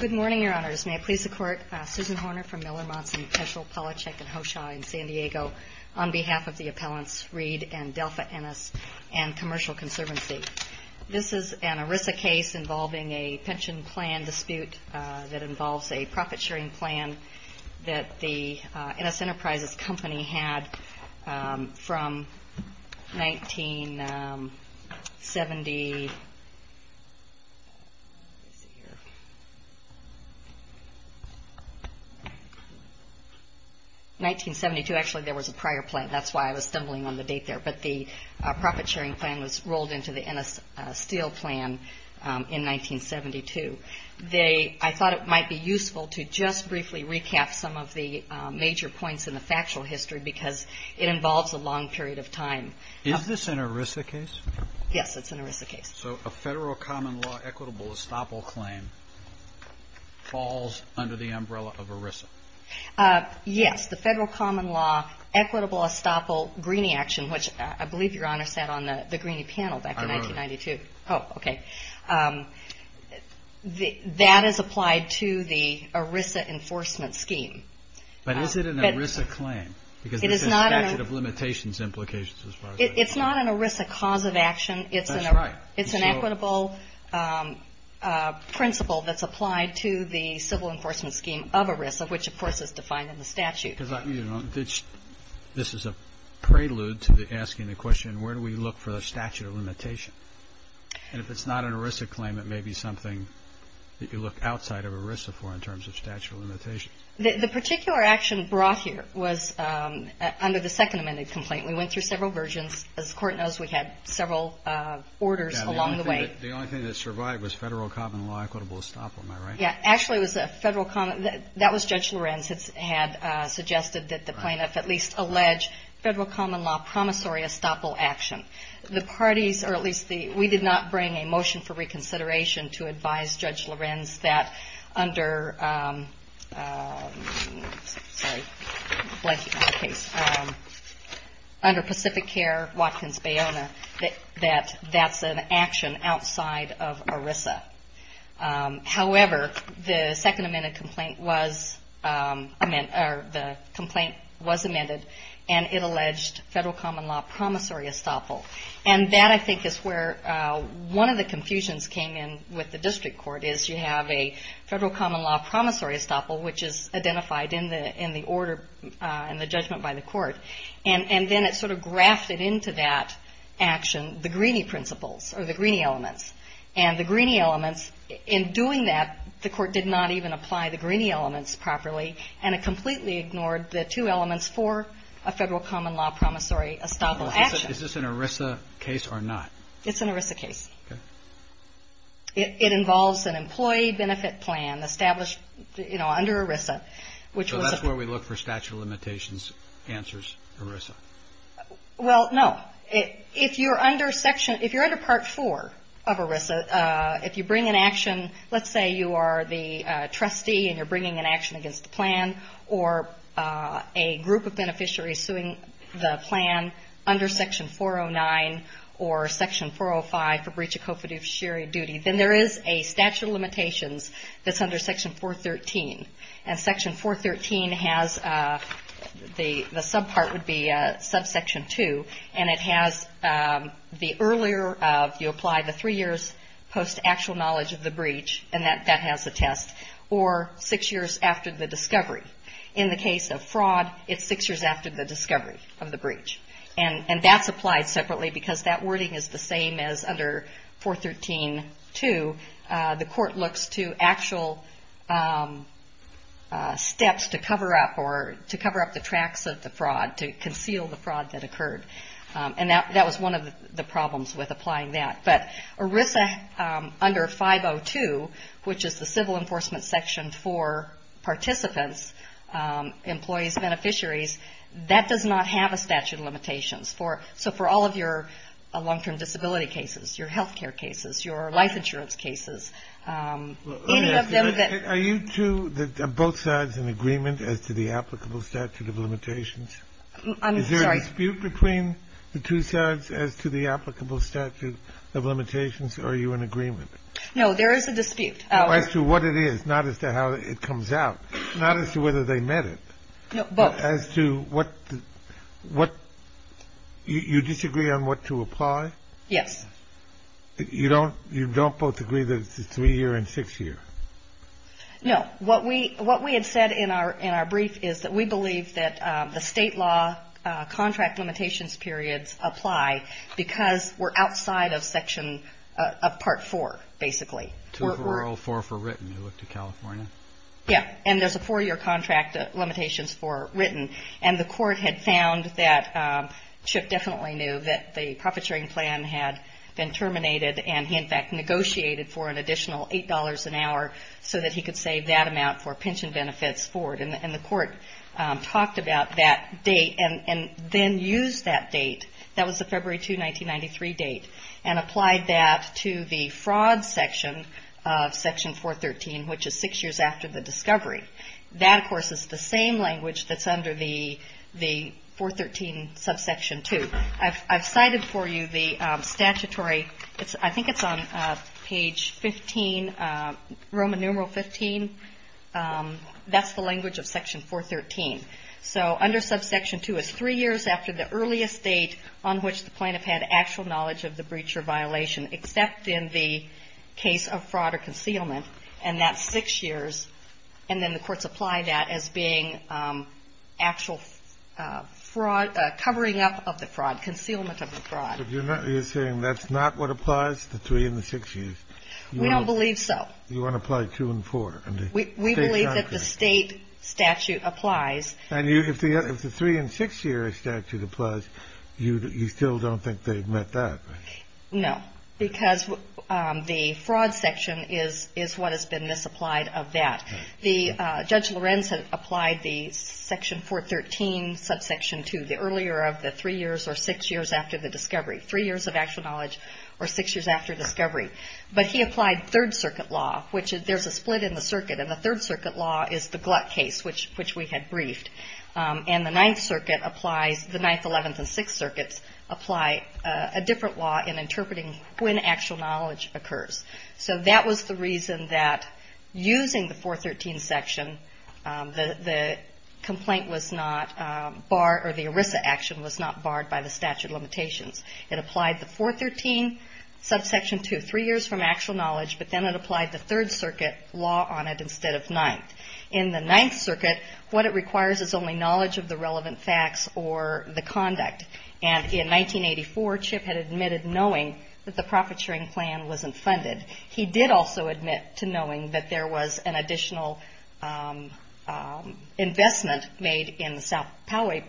Good morning, your honors. May I please the court, Susan Horner from Miller, Monson, Peschel, Polachek, and Hoshaw in San Diego on behalf of the appellants Reed and Delfa Ennis and Commercial Conservancy. This is an ERISA case involving a pension plan dispute that involves a profit-sharing plan that the Ennis Enterprises company had from 1972. I thought it might be useful to just briefly recap some of the major points in the factual history because it involves a long period of time. Is this an ERISA case? Yes, it's an ERISA case. So a federal common law equitable estoppel claim falls under the umbrella of ERISA? Yes, the federal common law equitable estoppel greenie action, which I believe your honor sat on the greenie panel back in 1992. I remember. Oh, okay. That is applied to the ERISA enforcement scheme. But is it an ERISA claim? Because it says statute of limitations implications as far as I know. It's not an ERISA cause of action. That's right. It's an equitable principle that's applied to the civil enforcement scheme of ERISA, which of course is defined in the statute. This is a prelude to asking the question, where do we look for the statute of limitation? And if it's not an ERISA claim, it may be something that you look outside of ERISA for in terms of statute of limitations. The particular action brought here was under the second amended complaint. We went through several versions. As the Court knows, we had several orders along the way. The only thing that survived was federal common law equitable estoppel. Am I right? Yeah. Actually, it was a federal common law. That was Judge Lorenz had suggested that the plaintiff at least allege federal common law promissory estoppel action. The parties, or at least the, we did not bring a motion for reconsideration to advise Judge Lorenz that under, sorry, under Pacific Care Watkins Bayona, that that's an action outside of ERISA. However, the second amended complaint was, or the complaint was amended, and it alleged federal common law promissory estoppel. And that, I think, is where one of the confusions came in with the district court is you have a federal common law promissory estoppel, which is identified in the order and the judgment by the court. And then it sort of grafted into that action the Greeney principles, or the Greeney elements. And the Greeney elements, in doing that, the court did not even apply the Greeney elements properly, and it completely ignored the two elements for a federal common law promissory estoppel action. Is this an ERISA case or not? It's an ERISA case. Okay. It involves an employee benefit plan established, you know, under ERISA, which was a... So that's where we look for statute of limitations answers ERISA. Well, no. If you're under section, if you're under Part 4 of ERISA, if you bring an action, let's say you are the trustee and you're bringing an action against the plan, or a group of beneficiaries suing the plan under Section 409 or Section 405 for breach of co-fiduciary duty, then there is a statute of limitations that's under Section 413. And Section 413 has, the subpart would be subsection 2, and it has the earlier of, you apply the three years post actual knowledge of the breach, and that has a test, or six years after the discovery. In the case of fraud, it's six years after the discovery of the breach. And that's applied separately because that wording is the same as under 413-2. The court looks to actual steps to cover up or to cover up the tracks of the fraud, to conceal the fraud that occurred. And that was one of the problems with applying that. But ERISA under 502, which is the civil enforcement section for participants, employees, beneficiaries, that does not have a statute of limitations. So for all of your long-term disability cases, your health care cases, your life insurance cases, any of them that. Are you two, are both sides in agreement as to the applicable statute of limitations? I'm sorry. Is there a dispute between the two sides as to the applicable statute of limitations, or are you in agreement? No, there is a dispute. As to what it is, not as to how it comes out, not as to whether they met it. No, both. As to what, you disagree on what to apply? Yes. You don't both agree that it's a three-year and six-year? No. What we had said in our brief is that we believe that the state law contract limitations periods apply because we're outside of section, of part four, basically. Two for oral, four for written. You look to California. Yeah. And there's a four-year contract limitations for written. And the court had found that Chip definitely knew that the profiteering plan had been terminated, and he, in fact, negotiated for an additional $8 an hour so that he could save that amount for pension benefits forward. And the court talked about that date and then used that date, that was the February 2, 1993 date, and applied that to the fraud section of section 413, which is six years after the discovery. That, of course, is the same language that's under the 413 subsection 2. I've cited for you the statutory, I think it's on page 15, Roman numeral 15. That's the language of section 413. So under subsection 2, it's three years after the earliest date on which the plaintiff had actual knowledge of the breach or violation, except in the case of fraud or concealment, and that's six years. And then the courts apply that as being actual fraud, covering up of the fraud, concealment of the fraud. So you're saying that's not what applies to three and the six years? We don't believe so. You want to apply two and four? We believe that the state statute applies. And if the three and six year statute applies, you still don't think they've met that? No, because the fraud section is what has been misapplied of that. Judge Lorenz had applied the section 413 subsection 2, the earlier of the three years or six years after the discovery, three years of actual knowledge or six years after discovery. But he applied third circuit law, which there's a split in the circuit, and the third circuit law is the Gluck case, which we had briefed. And the ninth circuit applies, the ninth, eleventh, and sixth circuits, apply a different law in interpreting when actual knowledge occurs. So that was the reason that using the 413 section, the complaint was not barred, or the ERISA action was not barred by the statute of limitations. It applied the 413 subsection 2, three years from actual knowledge, but then it applied the third circuit law on it instead of ninth. In the ninth circuit, what it requires is only knowledge of the relevant facts or the conduct. And in 1984, Chip had admitted knowing that the profit sharing plan wasn't funded. He did also admit to knowing that there was an additional investment made in the South Poway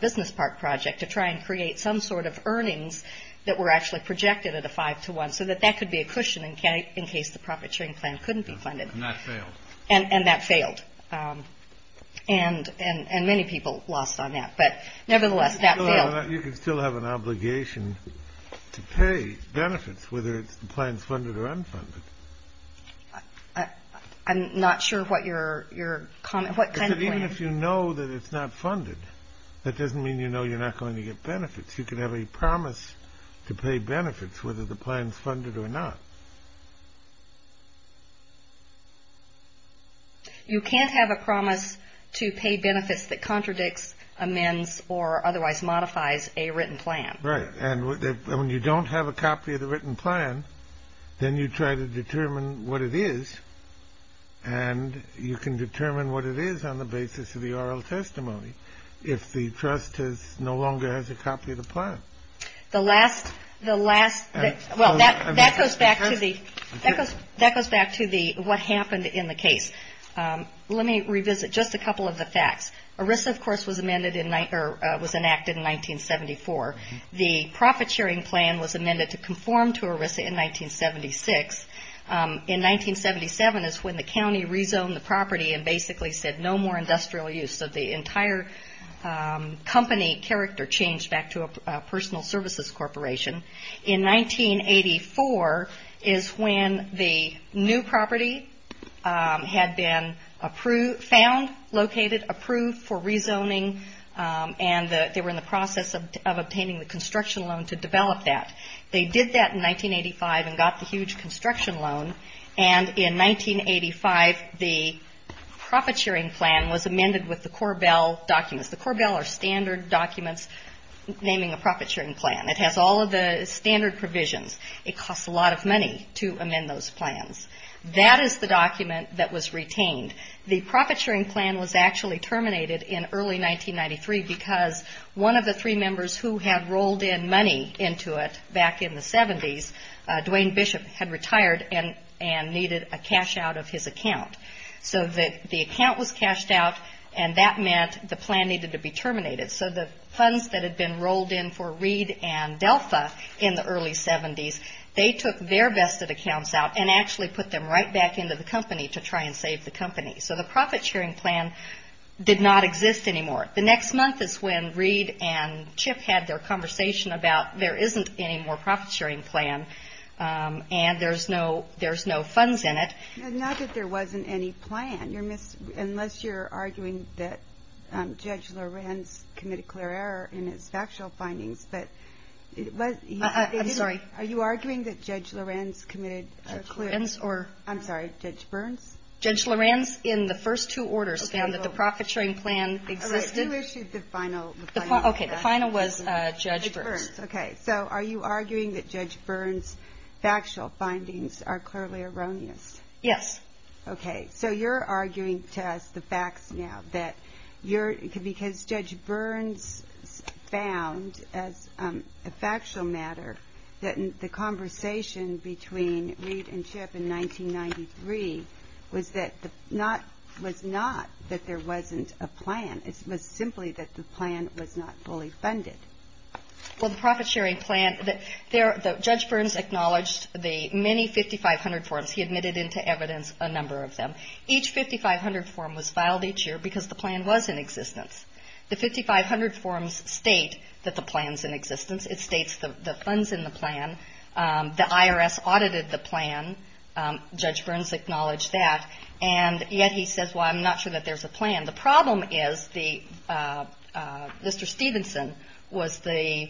Business Park project to try and create some sort of earnings that were actually projected at a five to one, so that that could be a cushion in case the profit sharing plan couldn't be funded. And that failed. And that failed. And many people lost on that. But nevertheless, that failed. You can still have an obligation to pay benefits, whether the plan's funded or unfunded. I'm not sure what your comment, what kind of plan. Even if you know that it's not funded, that doesn't mean you know you're not going to get benefits. You can have a promise to pay benefits, whether the plan's funded or not. You can't have a promise to pay benefits that contradicts, amends, or otherwise modifies a written plan. Right. And when you don't have a copy of the written plan, then you try to determine what it is. And you can determine what it is on the basis of the oral testimony if the trust no longer has a copy of the plan. The last, well, that goes back to what happened in the case. Let me revisit just a couple of the facts. ERISA, of course, was enacted in 1974. The profit sharing plan was amended to conform to ERISA in 1976. In 1977 is when the county rezoned the property and basically said no more industrial use. So the entire company character changed back to a personal services corporation. In 1984 is when the new property had been found, located, approved for rezoning, and they were in the process of obtaining the construction loan to develop that. They did that in 1985 and got the huge construction loan, and in 1985 the profit sharing plan was amended with the Corbell documents. The Corbell are standard documents naming a profit sharing plan. It has all of the standard provisions. It costs a lot of money to amend those plans. That is the document that was retained. The profit sharing plan was actually terminated in early 1993 because one of the three members who had rolled in money into it back in the 70s, Dwayne Bishop, had retired and needed a cash out of his account. So the account was cashed out, and that meant the plan needed to be terminated. So the funds that had been rolled in for Reed and Delpha in the early 70s, they took their vested accounts out and actually put them right back into the company to try and save the company. So the profit sharing plan did not exist anymore. The next month is when Reed and Chip had their conversation about there isn't any more profit sharing plan and there's no funds in it. Not that there wasn't any plan, unless you're arguing that Judge Lorenz committed clear error in his factual findings. I'm sorry. Are you arguing that Judge Lorenz committed clear error? I'm sorry. Judge Berns? Judge Lorenz, in the first two orders, found that the profit sharing plan existed. Okay. Who issued the final? Okay. The final was Judge Berns. Judge Berns. Okay. So are you arguing that Judge Berns' factual findings are clearly erroneous? Yes. Okay. So you're arguing to us the facts now, that because Judge Berns found, as a factual matter, that the conversation between Reed and Chip in 1993 was not that there wasn't a plan. It was simply that the plan was not fully funded. Well, the profit sharing plan, Judge Berns acknowledged the many 5,500 forms. He admitted into evidence a number of them. Each 5,500 form was filed each year because the plan was in existence. The 5,500 forms state that the plan's in existence. It states the funds in the plan. The IRS audited the plan. Judge Berns acknowledged that. And yet he says, well, I'm not sure that there's a plan. The problem is Mr. Stevenson was the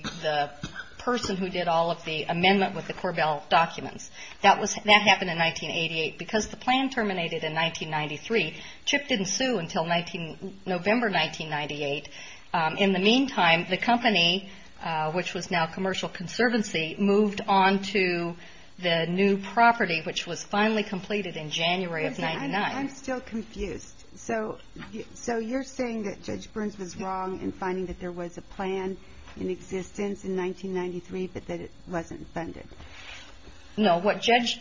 person who did all of the amendment with the Korbel documents. That happened in 1988. Because the plan terminated in 1993, Chip didn't sue until November 1998. In the meantime, the company, which was now Commercial Conservancy, moved on to the new property, which was finally completed in January of 1999. I'm still confused. So you're saying that Judge Berns was wrong in finding that there was a plan in existence in 1993, but that it wasn't funded? No. What Judge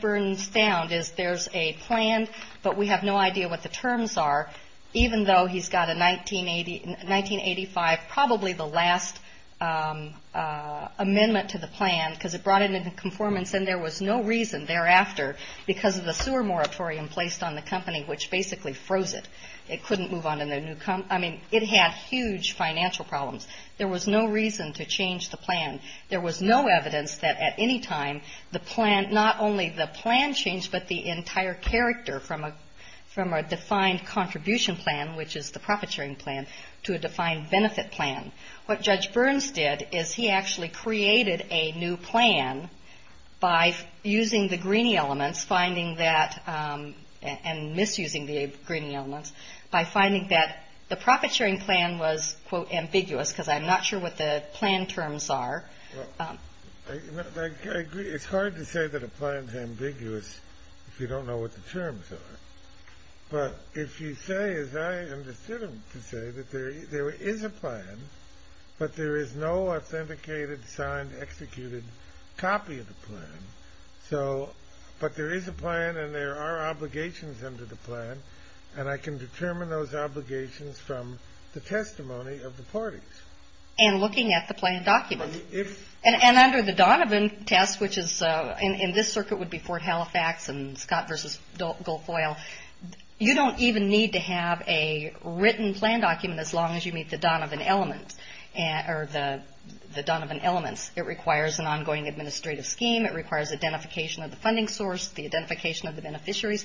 Berns found is there's a plan, but we have no idea what the terms are. Even though he's got a 1985, probably the last amendment to the plan, because it brought it into conformance and there was no reason thereafter, because of the sewer moratorium placed on the company, which basically froze it. It couldn't move on to the new company. I mean, it had huge financial problems. There was no reason to change the plan. There was no evidence that at any time the plan, not only the plan changed, but the entire character from a defined contribution plan, which is the profit-sharing plan, to a defined benefit plan. What Judge Berns did is he actually created a new plan by using the Greenie elements, finding that and misusing the Greenie elements, by finding that the profit-sharing plan was, quote, ambiguous, because I'm not sure what the plan terms are. I agree. It's hard to say that a plan is ambiguous if you don't know what the terms are. But if you say, as I understood him to say, that there is a plan, but there is no authenticated, signed, executed copy of the plan, but there is a plan and there are obligations under the plan, and I can determine those obligations from the testimony of the parties. And looking at the plan document. And under the Donovan test, which is in this circuit would be Fort Halifax and Scott v. Goldfoyle, you don't even need to have a written plan document as long as you meet the Donovan element or the Donovan elements. It requires an ongoing administrative scheme. It requires identification of the funding source, the identification of the beneficiaries.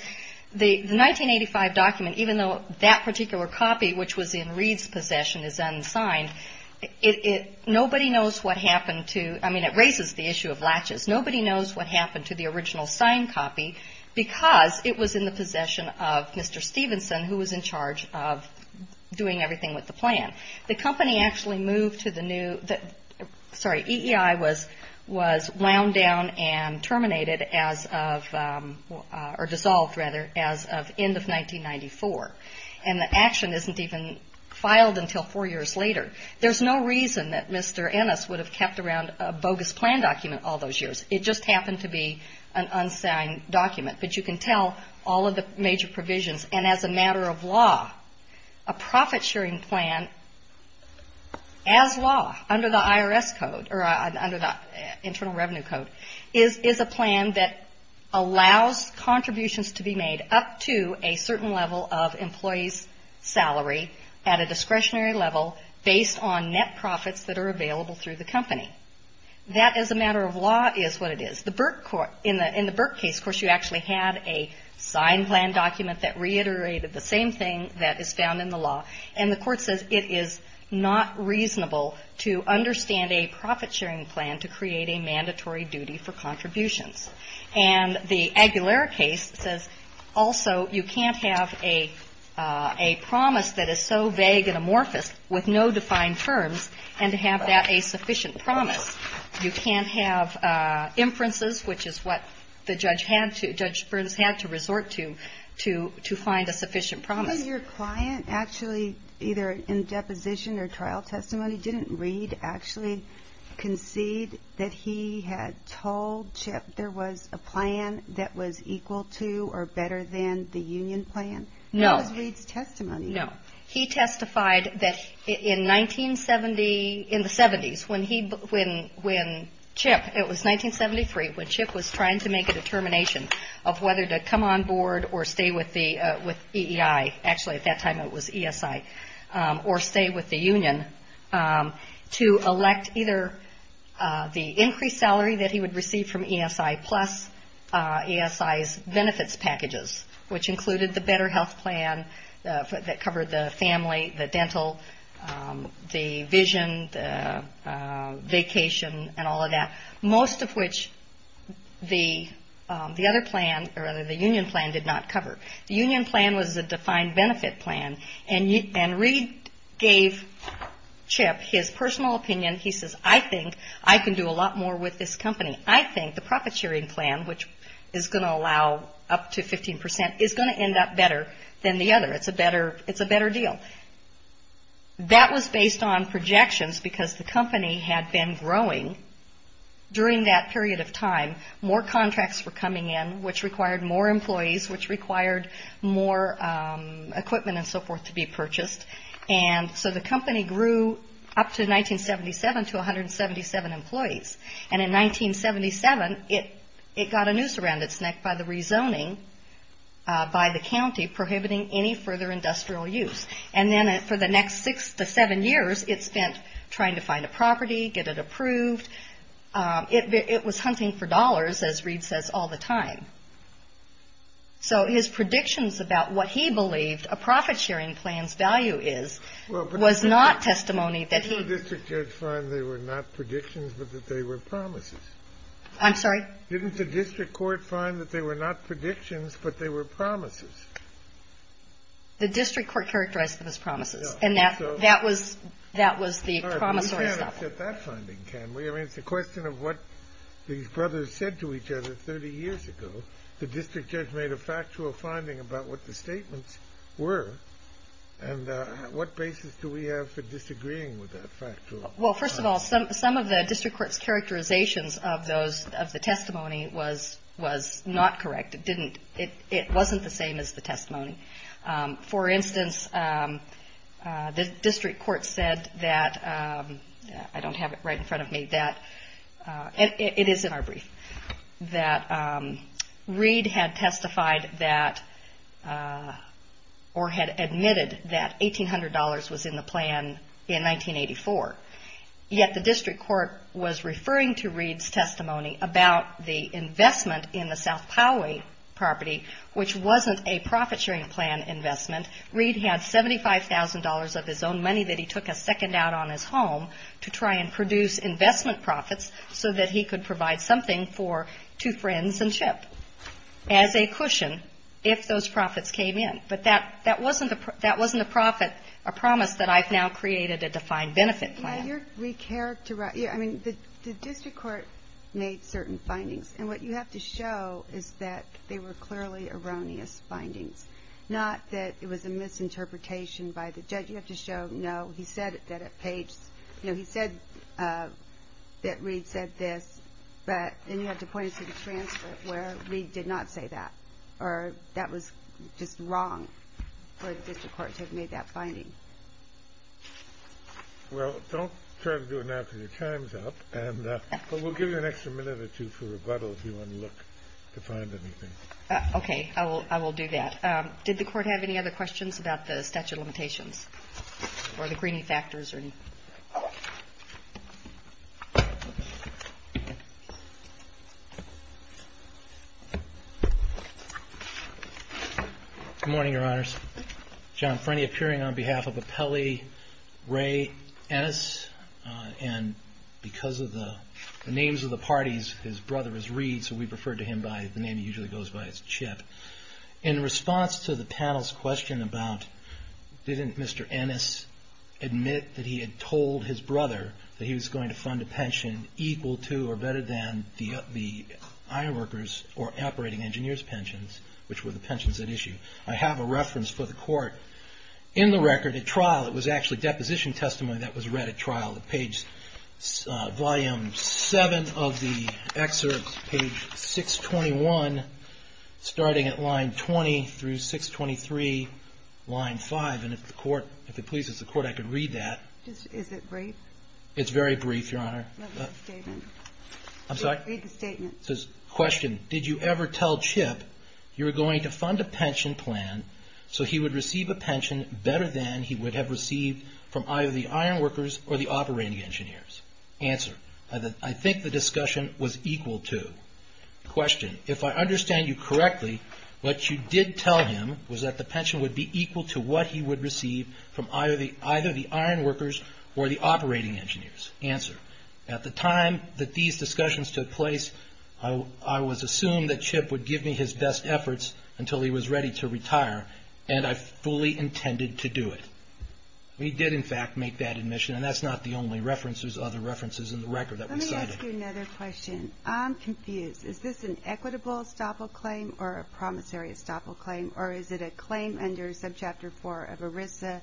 The 1985 document, even though that particular copy, which was in Reed's possession, is unsigned, nobody knows what happened to, I mean, it raises the issue of latches, nobody knows what happened to the original signed copy because it was in the possession of Mr. Stevenson, who was in charge of doing everything with the plan. The company actually moved to the new, sorry, was wound down and terminated as of, or dissolved, rather, as of end of 1994. And the action isn't even filed until four years later. There's no reason that Mr. Ennis would have kept around a bogus plan document all those years. It just happened to be an unsigned document. But you can tell all of the major provisions, and as a matter of law, a profit sharing plan, as law, under the IRS code, or under the Internal Revenue Code, is a plan that allows contributions to be made up to a certain level of employees' salary at a discretionary level based on net profits that are available through the company. That, as a matter of law, is what it is. In the Burke case, of course, you actually had a signed plan document that reiterated the same thing that is found in the law, and the Court says it is not reasonable to understand a profit sharing plan to create a mandatory duty for contributions. And the Aguilar case says also you can't have a promise that is so vague and amorphous with no defined terms and to have that a sufficient promise. You can't have inferences, which is what the judge had to, Judge Burns had to resort to, to find a sufficient promise. Did your client actually, either in deposition or trial testimony, didn't Reed actually concede that he had told Chip there was a plan that was equal to or better than the union plan? No. That was Reed's testimony. No. He testified that in 1970, in the 70s, when he, when Chip, it was 1973, when Chip was trying to make a determination of whether to come on board or stay with the, with EEI, actually at that time it was ESI, or stay with the union, to elect either the increased salary that he would receive from ESI plus ESI's benefits packages, which included the better health plan that covered the family, the dental, the vision, the vacation, and all of that, most of which the other plan or the union plan did not cover. The union plan was a defined benefit plan, and Reed gave Chip his personal opinion. He says, I think I can do a lot more with this company. I think the profit sharing plan, which is going to allow up to 15%, is going to end up better than the other. It's a better deal. That was based on projections because the company had been growing during that period of time. More contracts were coming in, which required more employees, which required more equipment and so forth to be purchased. And so the company grew up to 1977 to 177 employees. And in 1977, it got a noose around its neck by the rezoning, by the county, prohibiting any further industrial use. And then for the next six to seven years, it spent trying to find a property, get it approved. It was hunting for dollars, as Reed says, all the time. So his predictions about what he believed a profit sharing plan's value is was not testimony that he – Didn't the district judge find they were not predictions but that they were promises? I'm sorry? Didn't the district court find that they were not predictions but they were promises? The district court characterized them as promises. And that was the promissory stuff. We can't accept that finding, can we? I mean, it's a question of what these brothers said to each other 30 years ago. The district judge made a factual finding about what the statements were. Well, first of all, some of the district court's characterizations of the testimony was not correct. It wasn't the same as the testimony. For instance, the district court said that – I don't have it right in front of me – that Reed had testified that – or had admitted that $1,800 was in the plan in 1984. Yet the district court was referring to Reed's testimony about the investment in the South Poway property, which wasn't a profit sharing plan investment. Reed had $75,000 of his own money that he took a second out on his home to try and produce investment profits so that he could provide something for two friends and Chip as a cushion if those profits came in. But that wasn't a profit – a promise that I've now created a defined benefit plan. Yeah, you're – I mean, the district court made certain findings. And what you have to show is that they were clearly erroneous findings, not that it was a misinterpretation by the judge. You have to show, no, he said that at Page's – no, he said that Reed said this, but then you have to point it to the transcript where Reed did not say that or that was just wrong for the district court to have made that finding. Well, don't try to do it now until your time's up, but we'll give you an extra minute or two for rebuttal if you want to look to find anything. Okay, I will do that. Did the court have any other questions about the statute of limitations or the greening factors? Good morning, Your Honors. John Frenney appearing on behalf of Appellee Ray Ennis. And because of the names of the parties, his brother is Reed, so we prefer to him by the name he usually goes by is Chip. In response to the panel's question about didn't Mr. Ennis admit that he had told his brother that he was going to fund a pension equal to or better than the iron workers or operating engineers pensions, which were the pensions at issue, I have a reference for the court in the record at trial. It was actually deposition testimony that was read at trial. Page 7 of the excerpt, page 621, starting at line 20 through 623, line 5. And if the court, if it pleases the court, I could read that. Is it brief? It's very brief, Your Honor. Read the statement. I'm sorry? Read the statement. It says, question. Did you ever tell Chip you were going to fund a pension plan so he would receive a pension better than he would have received from either the iron workers or the operating engineers? Answer. I think the discussion was equal to. Question. If I understand you correctly, what you did tell him was that the pension would be equal to what he would receive from either the iron workers or the operating engineers. Answer. At the time that these discussions took place, I was assumed that Chip would give me his best efforts until he was ready to retire, and I fully intended to do it. We did, in fact, make that admission, and that's not the only reference. There's other references in the record that we cited. Let me ask you another question. I'm confused. Is this an equitable estoppel claim or a promissory estoppel claim, or is it a claim under subchapter 4 of ERISA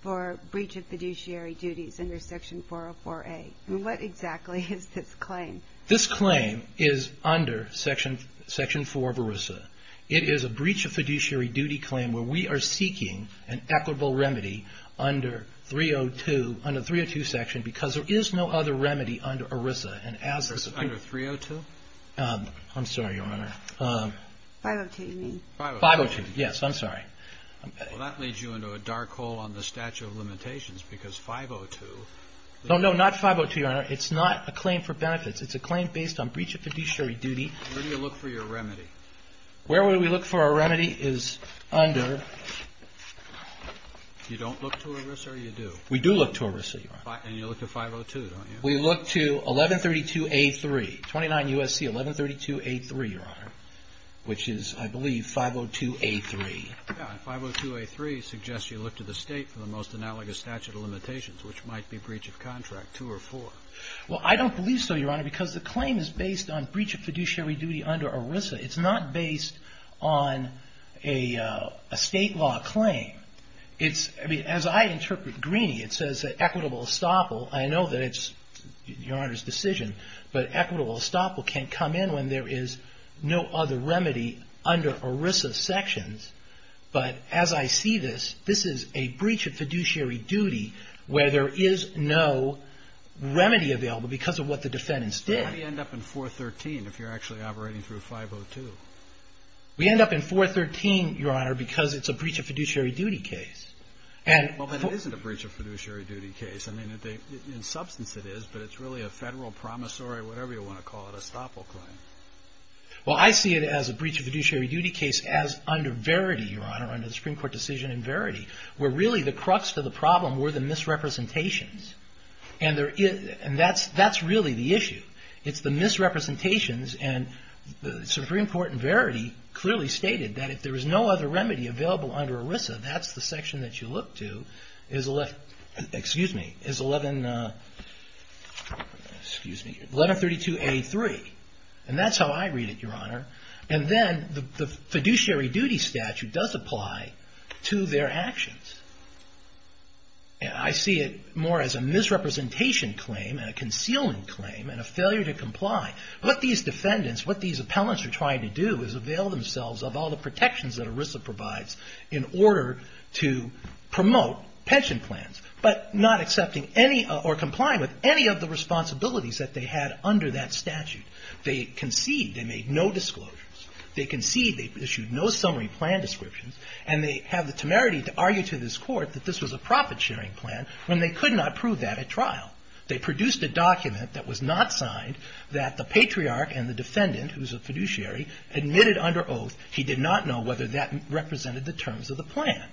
for breach of fiduciary duties under section 404A? What exactly is this claim? This claim is under section 4 of ERISA. It is a breach of fiduciary duty claim where we are seeking an equitable remedy under 302, under the 302 section, because there is no other remedy under ERISA. Under 302? I'm sorry, Your Honor. 502, you mean? 502, yes. I'm sorry. Well, that leads you into a dark hole on the statute of limitations, because 502. No, no, not 502, Your Honor. It's not a claim for benefits. It's a claim based on breach of fiduciary duty. Where do you look for your remedy? Where we look for our remedy is under ---- You don't look to ERISA or you do? We do look to ERISA, Your Honor. And you look to 502, don't you? We look to 1132A3, 29 U.S.C., 1132A3, Your Honor, which is, I believe, 502A3. Yeah, and 502A3 suggests you look to the state for the most analogous statute of limitations, which might be breach of contract 2 or 4. Well, I don't believe so, Your Honor, because the claim is based on breach of fiduciary duty under ERISA. It's not based on a state law claim. It's, I mean, as I interpret Greeney, it says that equitable estoppel, I know that it's Your Honor's decision, but equitable estoppel can't come in when there is no other remedy under ERISA sections. But as I see this, this is a breach of fiduciary duty where there is no remedy available because of what the defendants did. Why do you end up in 413 if you're actually operating through 502? We end up in 413, Your Honor, because it's a breach of fiduciary duty case. Well, but it isn't a breach of fiduciary duty case. I mean, in substance it is, but it's really a federal promissory, whatever you want to call it, estoppel claim. Well, I see it as a breach of fiduciary duty case as under Verity, Your Honor, under the Supreme Court decision in Verity, where really the crux to the problem were the misrepresentations. And that's really the issue. It's the misrepresentations, and the Supreme Court in Verity clearly stated that if there is no other remedy available under ERISA, that's the section that you look to is 1132A3. And that's how I read it, Your Honor. And then the fiduciary duty statute does apply to their actions. I see it more as a misrepresentation claim and a concealment claim and a failure to comply. What these defendants, what these appellants are trying to do is avail themselves of all the protections that ERISA provides in order to promote pension plans, but not accepting any or complying with any of the responsibilities that they had under that statute. They concede they made no disclosures. They concede they issued no summary plan descriptions. And they have the temerity to argue to this Court that this was a profit-sharing plan when they could not prove that at trial. They produced a document that was not signed that the patriarch and the defendant, who's a fiduciary, admitted under oath he did not know whether that represented the terms of the plan.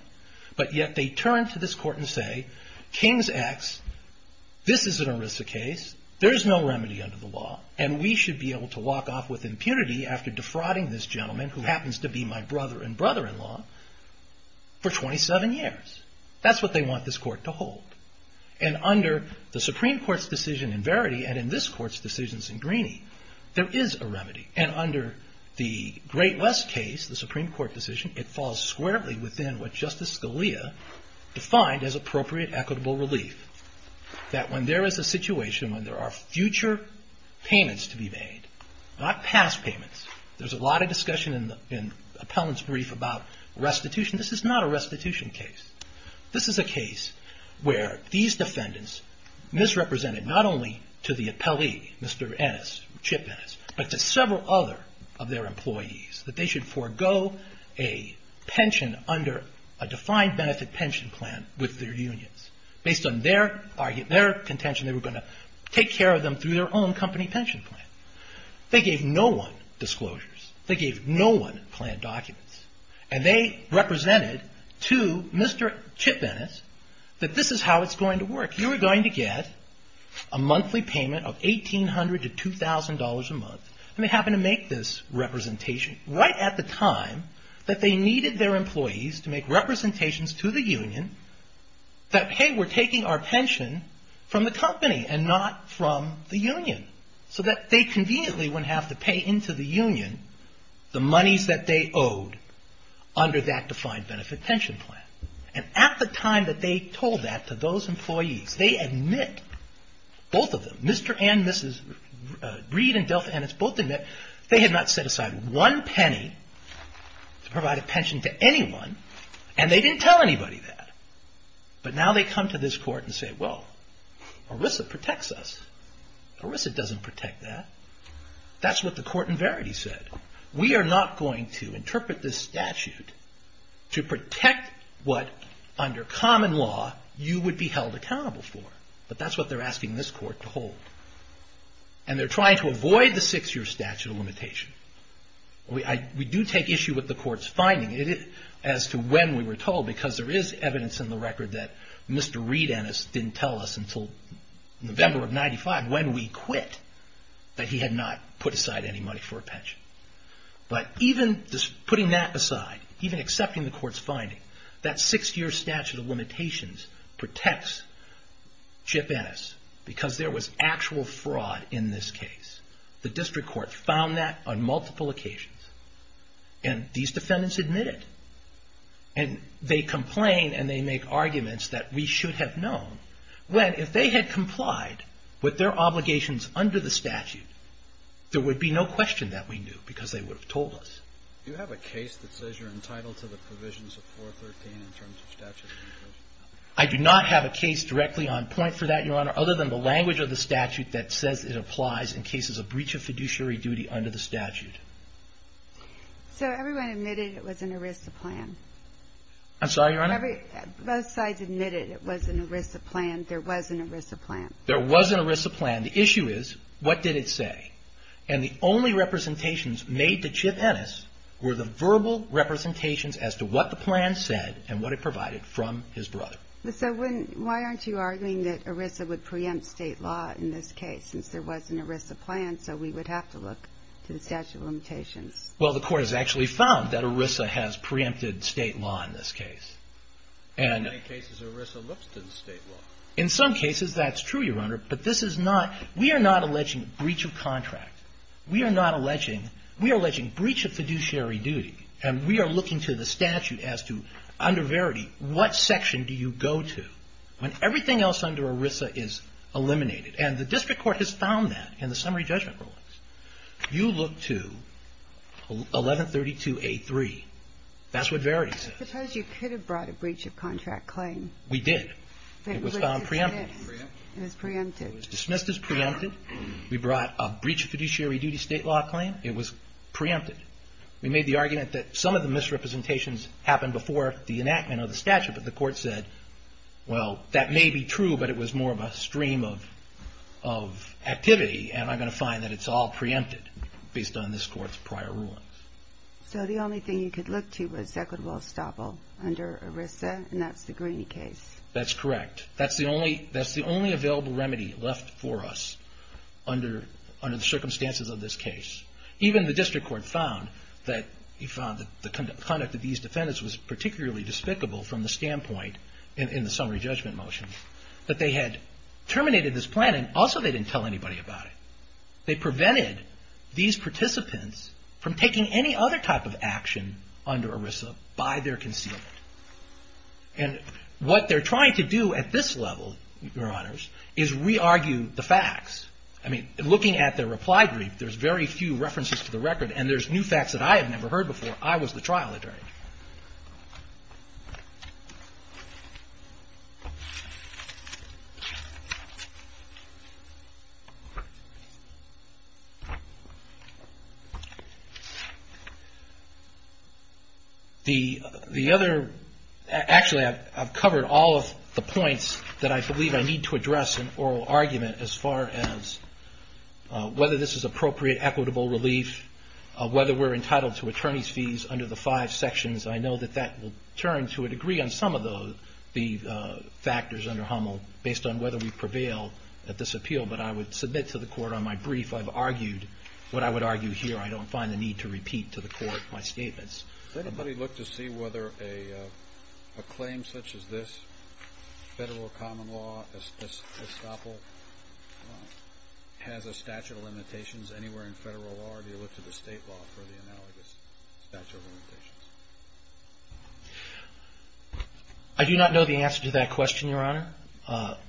But yet they turn to this Court and say, King's X, this is an ERISA case. There's no remedy under the law. And we should be able to walk off with impunity after defrauding this gentleman, who happens to be my brother and brother-in-law, for 27 years. That's what they want this Court to hold. And under the Supreme Court's decision in Verity and in this Court's decisions in Greeney, there is a remedy. And under the Great West case, the Supreme Court decision, it falls squarely within what Justice Scalia defined as appropriate equitable relief. That when there is a situation when there are future payments to be made, not past payments, there's a lot of discussion in the appellant's brief about restitution. This is not a restitution case. This is a case where these defendants misrepresented not only to the appellee, Mr. Ennis, Chip Ennis, but to several other of their employees, that they should forego a pension under a defined benefit pension plan with their unions. Based on their contention, they were going to take care of them through their own company pension plan. They gave no one disclosures. They gave no one plan documents. And they represented to Mr. Chip Ennis that this is how it's going to work. You are going to get a monthly payment of $1,800 to $2,000 a month. And they happened to make this representation right at the time that they needed their employees to make representations to the union that, hey, we're taking our pension from the company and not from the union. So that they conveniently wouldn't have to pay into the union the monies that they owed under that defined benefit pension plan. And at the time that they told that to those employees, they admit, both of them, Mr. and Mrs. Reed and Delta Ennis both admit, they had not set aside one penny to provide a pension to anyone and they didn't tell anybody that. But now they come to this court and say, well, ERISA protects us. ERISA doesn't protect that. That's what the court in Verity said. We are not going to interpret this statute to protect what, under common law, you would be held accountable for. But that's what they're asking this court to hold. And they're trying to avoid the six-year statute of limitation. We do take issue with the court's finding as to when we were told, because there is evidence in the record that Mr. Reed Ennis didn't tell us until November of 95, when we quit, that he had not put aside any money for a pension. But even putting that aside, even accepting the court's finding, that six-year statute of limitations protects Chip Ennis because there was actual fraud in this case. The district court found that on multiple occasions. And these defendants admit it. And they complain and they make arguments that we should have known when, if they had complied with their obligations under the statute, there would be no question that we knew because they would have told us. Do you have a case that says you're entitled to the provisions of 413 in terms of statute of limitations? I do not have a case directly on point for that, Your Honor, other than the language of the statute that says it applies in cases of breach of fiduciary duty under the statute. So everyone admitted it was an ERISA plan? I'm sorry, Your Honor? Both sides admitted it was an ERISA plan. There was an ERISA plan. There was an ERISA plan. The issue is, what did it say? And the only representations made to Chip Ennis were the verbal representations as to what the plan said and what it provided from his brother. So why aren't you arguing that ERISA would preempt state law in this case, since there was an ERISA plan, so we would have to look to the statute of limitations? Well, the court has actually found that ERISA has preempted state law in this case. In many cases, ERISA looks to the state law. In some cases, that's true, Your Honor, but this is not – we are not alleging breach of contract. We are not alleging – we are alleging breach of fiduciary duty. And we are looking to the statute as to, under Verity, what section do you go to when everything else under ERISA is eliminated? And the district court has found that in the summary judgment rulings. You look to 1132A3. That's what Verity says. I suppose you could have brought a breach of contract claim. We did. It was found preempted. It was dismissed as preempted. It was dismissed as preempted. We brought a breach of fiduciary duty state law claim. It was preempted. We made the argument that some of the misrepresentations happened before the enactment of the statute, but the court said, well, that may be true, but it was more of a stream of activity, and I'm going to find that it's all preempted based on this court's prior rulings. So the only thing you could look to was Equitable estoppel under ERISA, and that's the Greene case. That's correct. That's the only – that's the only available remedy left for us under the circumstances of this case. Even the district court found that – it found that the conduct of these defendants was particularly despicable from the standpoint in the summary judgment motion, that they had terminated this plan, and also they didn't tell anybody about it. They prevented these participants from taking any other type of action under ERISA by their concealment. And what they're trying to do at this level, Your Honors, is re-argue the facts. I mean, looking at their reply brief, there's very few references to the record, and there's new facts that I have never heard before. I was the trial attorney. The other – actually, I've covered all of the points that I believe I need to address in oral argument as far as whether this is appropriate equitable relief, whether we're entitled to attorney's fees under the five sections. I know that that will turn to a degree on some of the factors under HUML based on whether we prevail at this appeal, but I would submit to the court on my brief, I've argued what I would argue here. I don't find the need to repeat to the court my statements. Does anybody look to see whether a claim such as this, federal common law, has a statute of limitations anywhere in federal law, or do you look to the state law for the analogous statute of limitations? I do not know the answer to that question, Your Honor.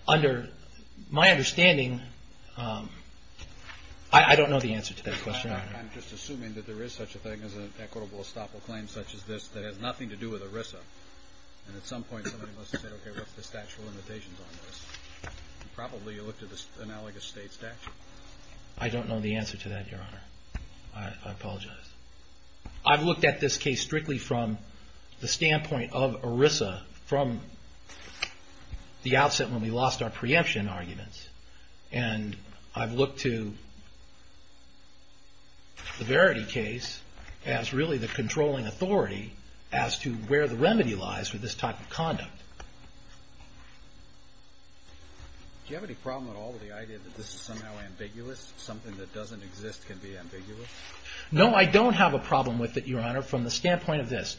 Under my understanding – I don't know the answer to that question, Your Honor. I'm just assuming that there is such a thing as an equitable estoppel claim such as this that has nothing to do with ERISA, and at some point somebody must have said, okay, what's the statute of limitations on this? Probably you look to the analogous state statute. I don't know the answer to that, Your Honor. I apologize. I've looked at this case strictly from the standpoint of ERISA, from the outset when we lost our preemption arguments, and I've looked to the Verity case as really the controlling authority as to where the remedy lies for this type of conduct. Do you have any problem at all with the idea that this is somehow ambiguous, something that doesn't exist can be ambiguous? No, I don't have a problem with it, Your Honor, from the standpoint of this.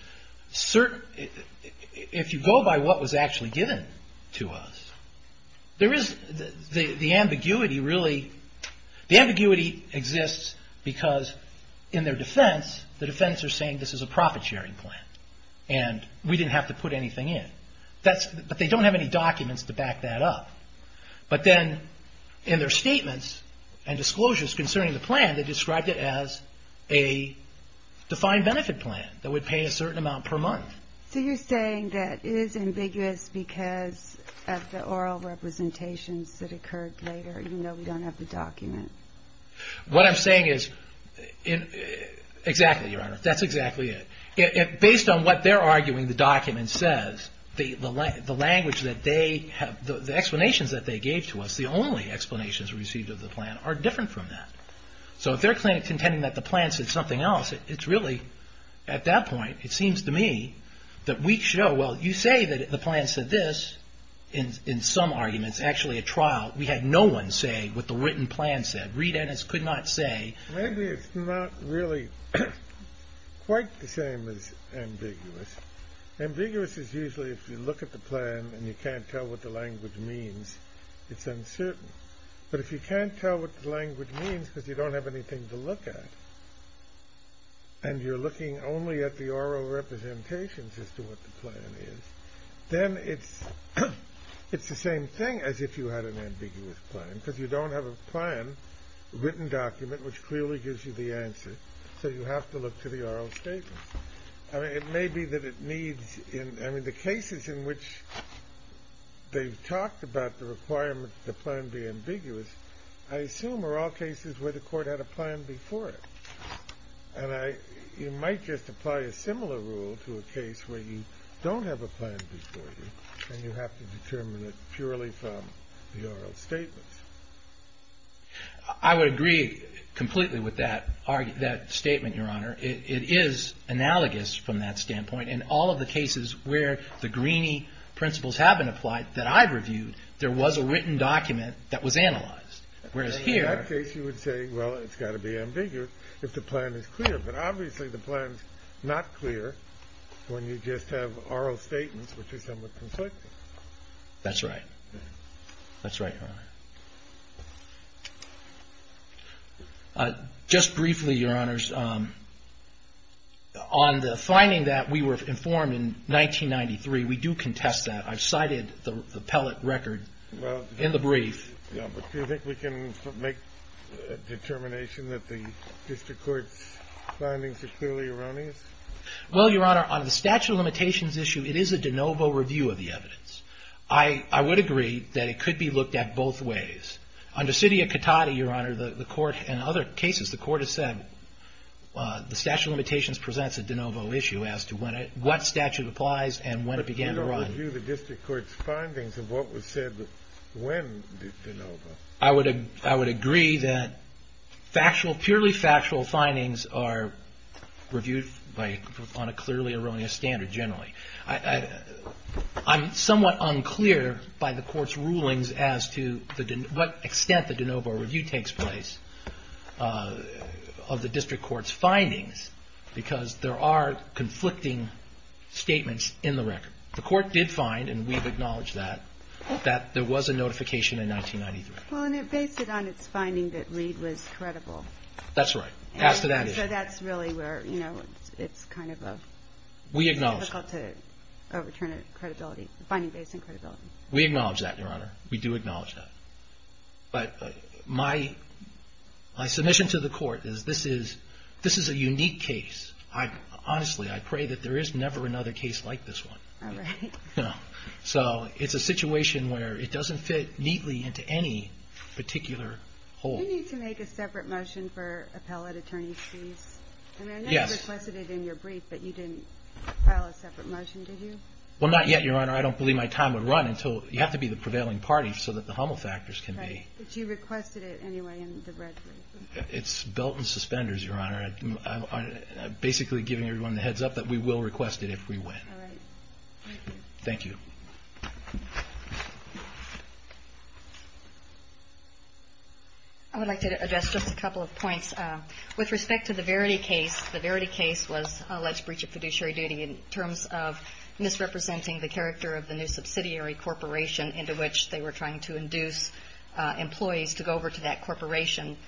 If you go by what was actually given to us, there is – the ambiguity really – the ambiguity exists because in their defense, the defense are saying this is a profit-sharing plan and we didn't have to put anything in. But they don't have any documents to back that up. But then in their statements and disclosures concerning the plan, they described it as a defined benefit plan that would pay a certain amount per month. So you're saying that it is ambiguous because of the oral representations that occurred later, even though we don't have the document? What I'm saying is – exactly, Your Honor, that's exactly it. Based on what they're arguing, the document says, the language that they have – the explanations that they gave to us, the only explanations received of the plan, are different from that. So if they're contending that the plan said something else, it's really – at that point, it seems to me that we show, well, you say that the plan said this, in some arguments, actually a trial. We had no one say what the written plan said. Reed Ennis could not say. Maybe it's not really quite the same as ambiguous. Ambiguous is usually if you look at the plan and you can't tell what the language means. It's uncertain. But if you can't tell what the language means because you don't have anything to look at, and you're looking only at the oral representations as to what the plan is, then it's the same thing as if you had an ambiguous plan, because you don't have a plan, a written document, which clearly gives you the answer. So you have to look to the oral statements. I mean, it may be that it needs – I mean, the cases in which they've talked about the requirement that the plan be ambiguous, I assume are all cases where the Court had a plan before it. And I – you might just apply a similar rule to a case where you don't have a plan before you, and you have to determine it purely from the oral statements. I would agree completely with that argument – that statement, Your Honor. Where the Greeney principles have been applied that I've reviewed, there was a written document that was analyzed. Whereas here – In that case, you would say, well, it's got to be ambiguous if the plan is clear. But obviously the plan's not clear when you just have oral statements, which are somewhat conflicting. That's right. That's right, Your Honor. Just briefly, Your Honors, on the finding that we were informed in 1993, we do contest that. I've cited the pellet record in the brief. Well, do you think we can make a determination that the district court's findings are clearly erroneous? Well, Your Honor, on the statute of limitations issue, it is a de novo review of the evidence. I would agree that it could be looked at both ways. Under city of Cotati, Your Honor, the Court – in other cases, the Court has said the statute of limitations presents a de novo issue as to what statute applies and when it began to run. But you don't review the district court's findings of what was said when de novo. I would agree that purely factual findings are reviewed on a clearly erroneous standard generally. I'm somewhat unclear by the Court's rulings as to what extent the de novo review takes place of the district court's findings, because there are conflicting statements in the record. The Court did find – and we've acknowledged that – that there was a notification in 1993. Well, and it based it on its finding that Reed was credible. That's right. As to that issue. We acknowledge that, Your Honor. We do acknowledge that. But my submission to the Court is this is a unique case. Honestly, I pray that there is never another case like this one. It's a situation where it doesn't fit neatly into any particular hole. You need to make a separate motion for appellate attorney's fees. I know you requested it in your brief, but you didn't file a separate motion, did you? Well, not yet, Your Honor. I don't believe my time would run until – you have to be the prevailing party so that the Hummel factors can be. It's belt and suspenders, Your Honor. I'm basically giving everyone the heads up that we will request it if we win. Thank you. I would like to address just a couple of points. With respect to the Verity case, the Verity case was alleged breach of fiduciary duty in terms of misrepresenting the character of the new property to induce employees to go over to that corporation,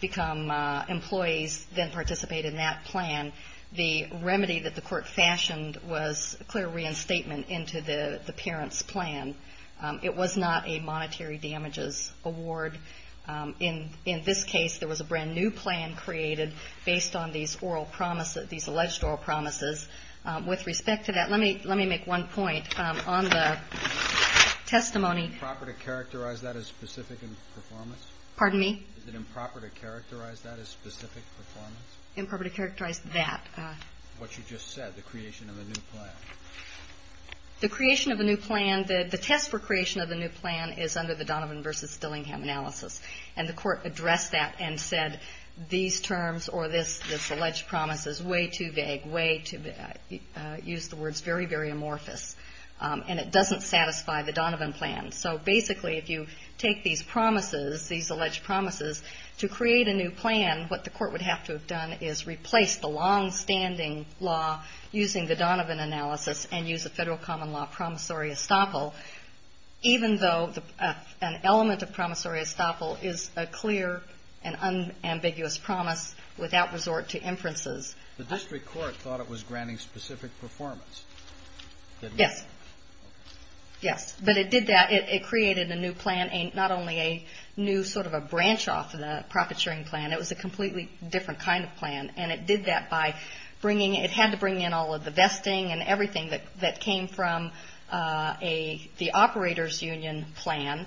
become employees, then participate in that plan. The remedy that the Court fashioned was clear reinstatement into the parent's plan. It was not a monetary damages award. In this case, there was a brand new plan created based on these alleged oral promises. With respect to that, let me make one point on the testimony. Is it improper to characterize that as specific performance? Pardon me? Is it improper to characterize that as specific performance? Improper to characterize that. What you just said, the creation of a new plan. The creation of a new plan, the test for creation of a new plan is under the Donovan versus Dillingham analysis. And the Court addressed that and said these terms or this alleged promise is way too vague, way too vague. I use the words very, very amorphous. And it doesn't satisfy the Donovan plan. So basically, if you take these promises, these alleged promises, to create a new plan, what the Court would have to have done is replace the longstanding law using the Donovan analysis and use a Federal common law promissory estoppel even though an element of promissory estoppel is a clear and unambiguous promise without resort to inferences. The District Court thought it was granting specific performance. Yes. Yes. But it did that. It created a new plan, not only a new sort of a branch off of the profit sharing plan, it was a completely different kind of plan. And it did that by bringing in, it had to bring in all of the vesting and everything that came from the operator's union plan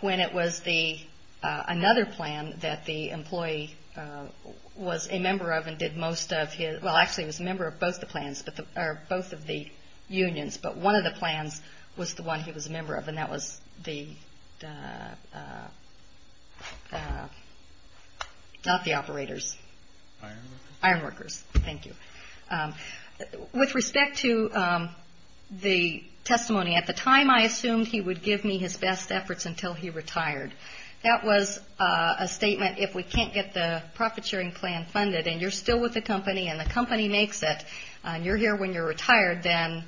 when it was the, another plan that the employee was a member of and did most of his, well actually he was a member of both the plans, or both of the unions, but one of the plans was the one he was a member of and that was the not the operators. Ironworkers. Thank you. With respect to the testimony, at the time I assumed he would give me his best efforts until he retired. That was a statement if we can't get the profit sharing plan funded and you're still with the company and the company makes it and you're here when you're retired then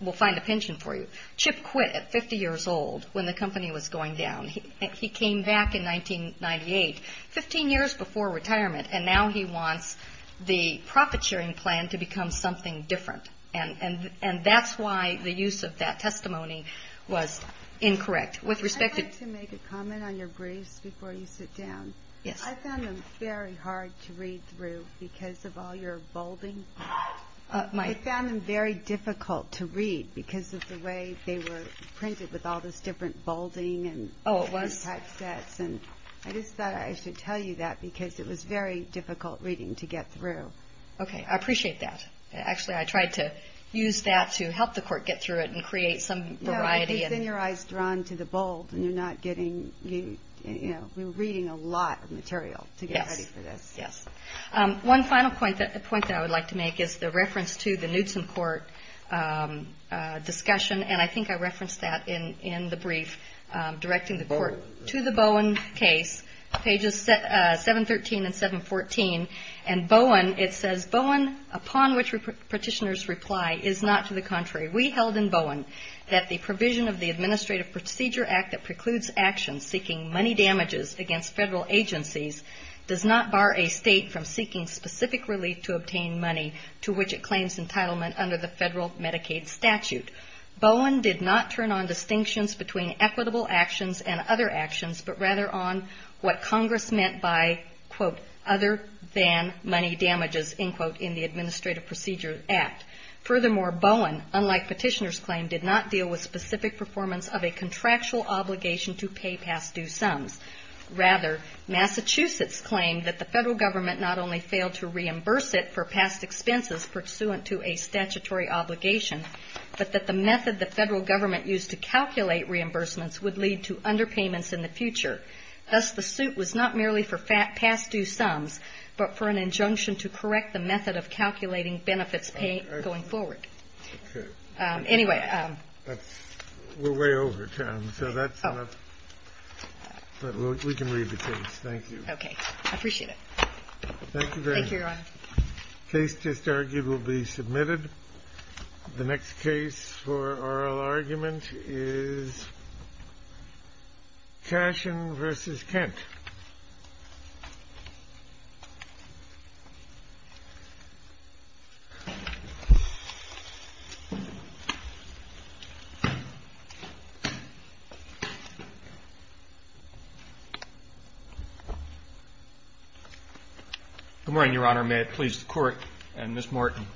we'll find a pension for you. Chip quit at 50 years old when the company was going down. He came back in 1998, 15 years before retirement and now he wants the profit sharing plan to become something different. And that's why the use of that testimony was incorrect. With respect to... I'd like to make a comment on your briefs before you sit down. I found them very hard to read through because of all your bolding. I found them very difficult to read because of the way they were printed with all this different bolding and type sets. I just thought I should tell you that because it was very difficult reading to get through. Okay, I appreciate that. Actually I tried to use that to help the court get through it and create some variety. No, because then your eyes are drawn to the bold and you're not getting, you know, you're reading a lot of material to get ready for this. Yes. One final point that I would like to make is the reference to the Knudsen court discussion and I think I referenced that in the brief directing the court to the Bowen case, pages 713 and 714. And Bowen, it says, Bowen, upon which petitioners reply, is not to the contrary. We held in Bowen that the provision of the Administrative Procedure Act that precludes actions seeking money damages against federal agencies does not bar a state from seeking specific relief to obtain money to which it claims entitlement under the federal Medicaid statute. Bowen did not turn on distinctions between equitable actions and other actions but rather on what Congress meant by, quote, other than money damages, end quote, in the Administrative Procedure Act. Furthermore, Bowen, unlike petitioners claim, did not deal with specific performance of a contractual obligation to pay past due sums. Rather, Massachusetts claimed that the federal government not only failed to reimburse it for past expenses pursuant to a statutory obligation but that the method the federal government used to calculate reimbursements would lead to underpayments in the future. Thus, the suit was not merely for past due sums but for an injunction to correct the method of calculating benefits paid going forward. Anyway. We're way over time, so that's enough. Oh. But we can read the case. Thank you. Okay. I appreciate it. Thank you very much. Thank you, Your Honor. The case just argued will be submitted. The next case for oral argument is Cashin v. Kent. Good morning, Your Honor. May it please the Court and Ms. Morton.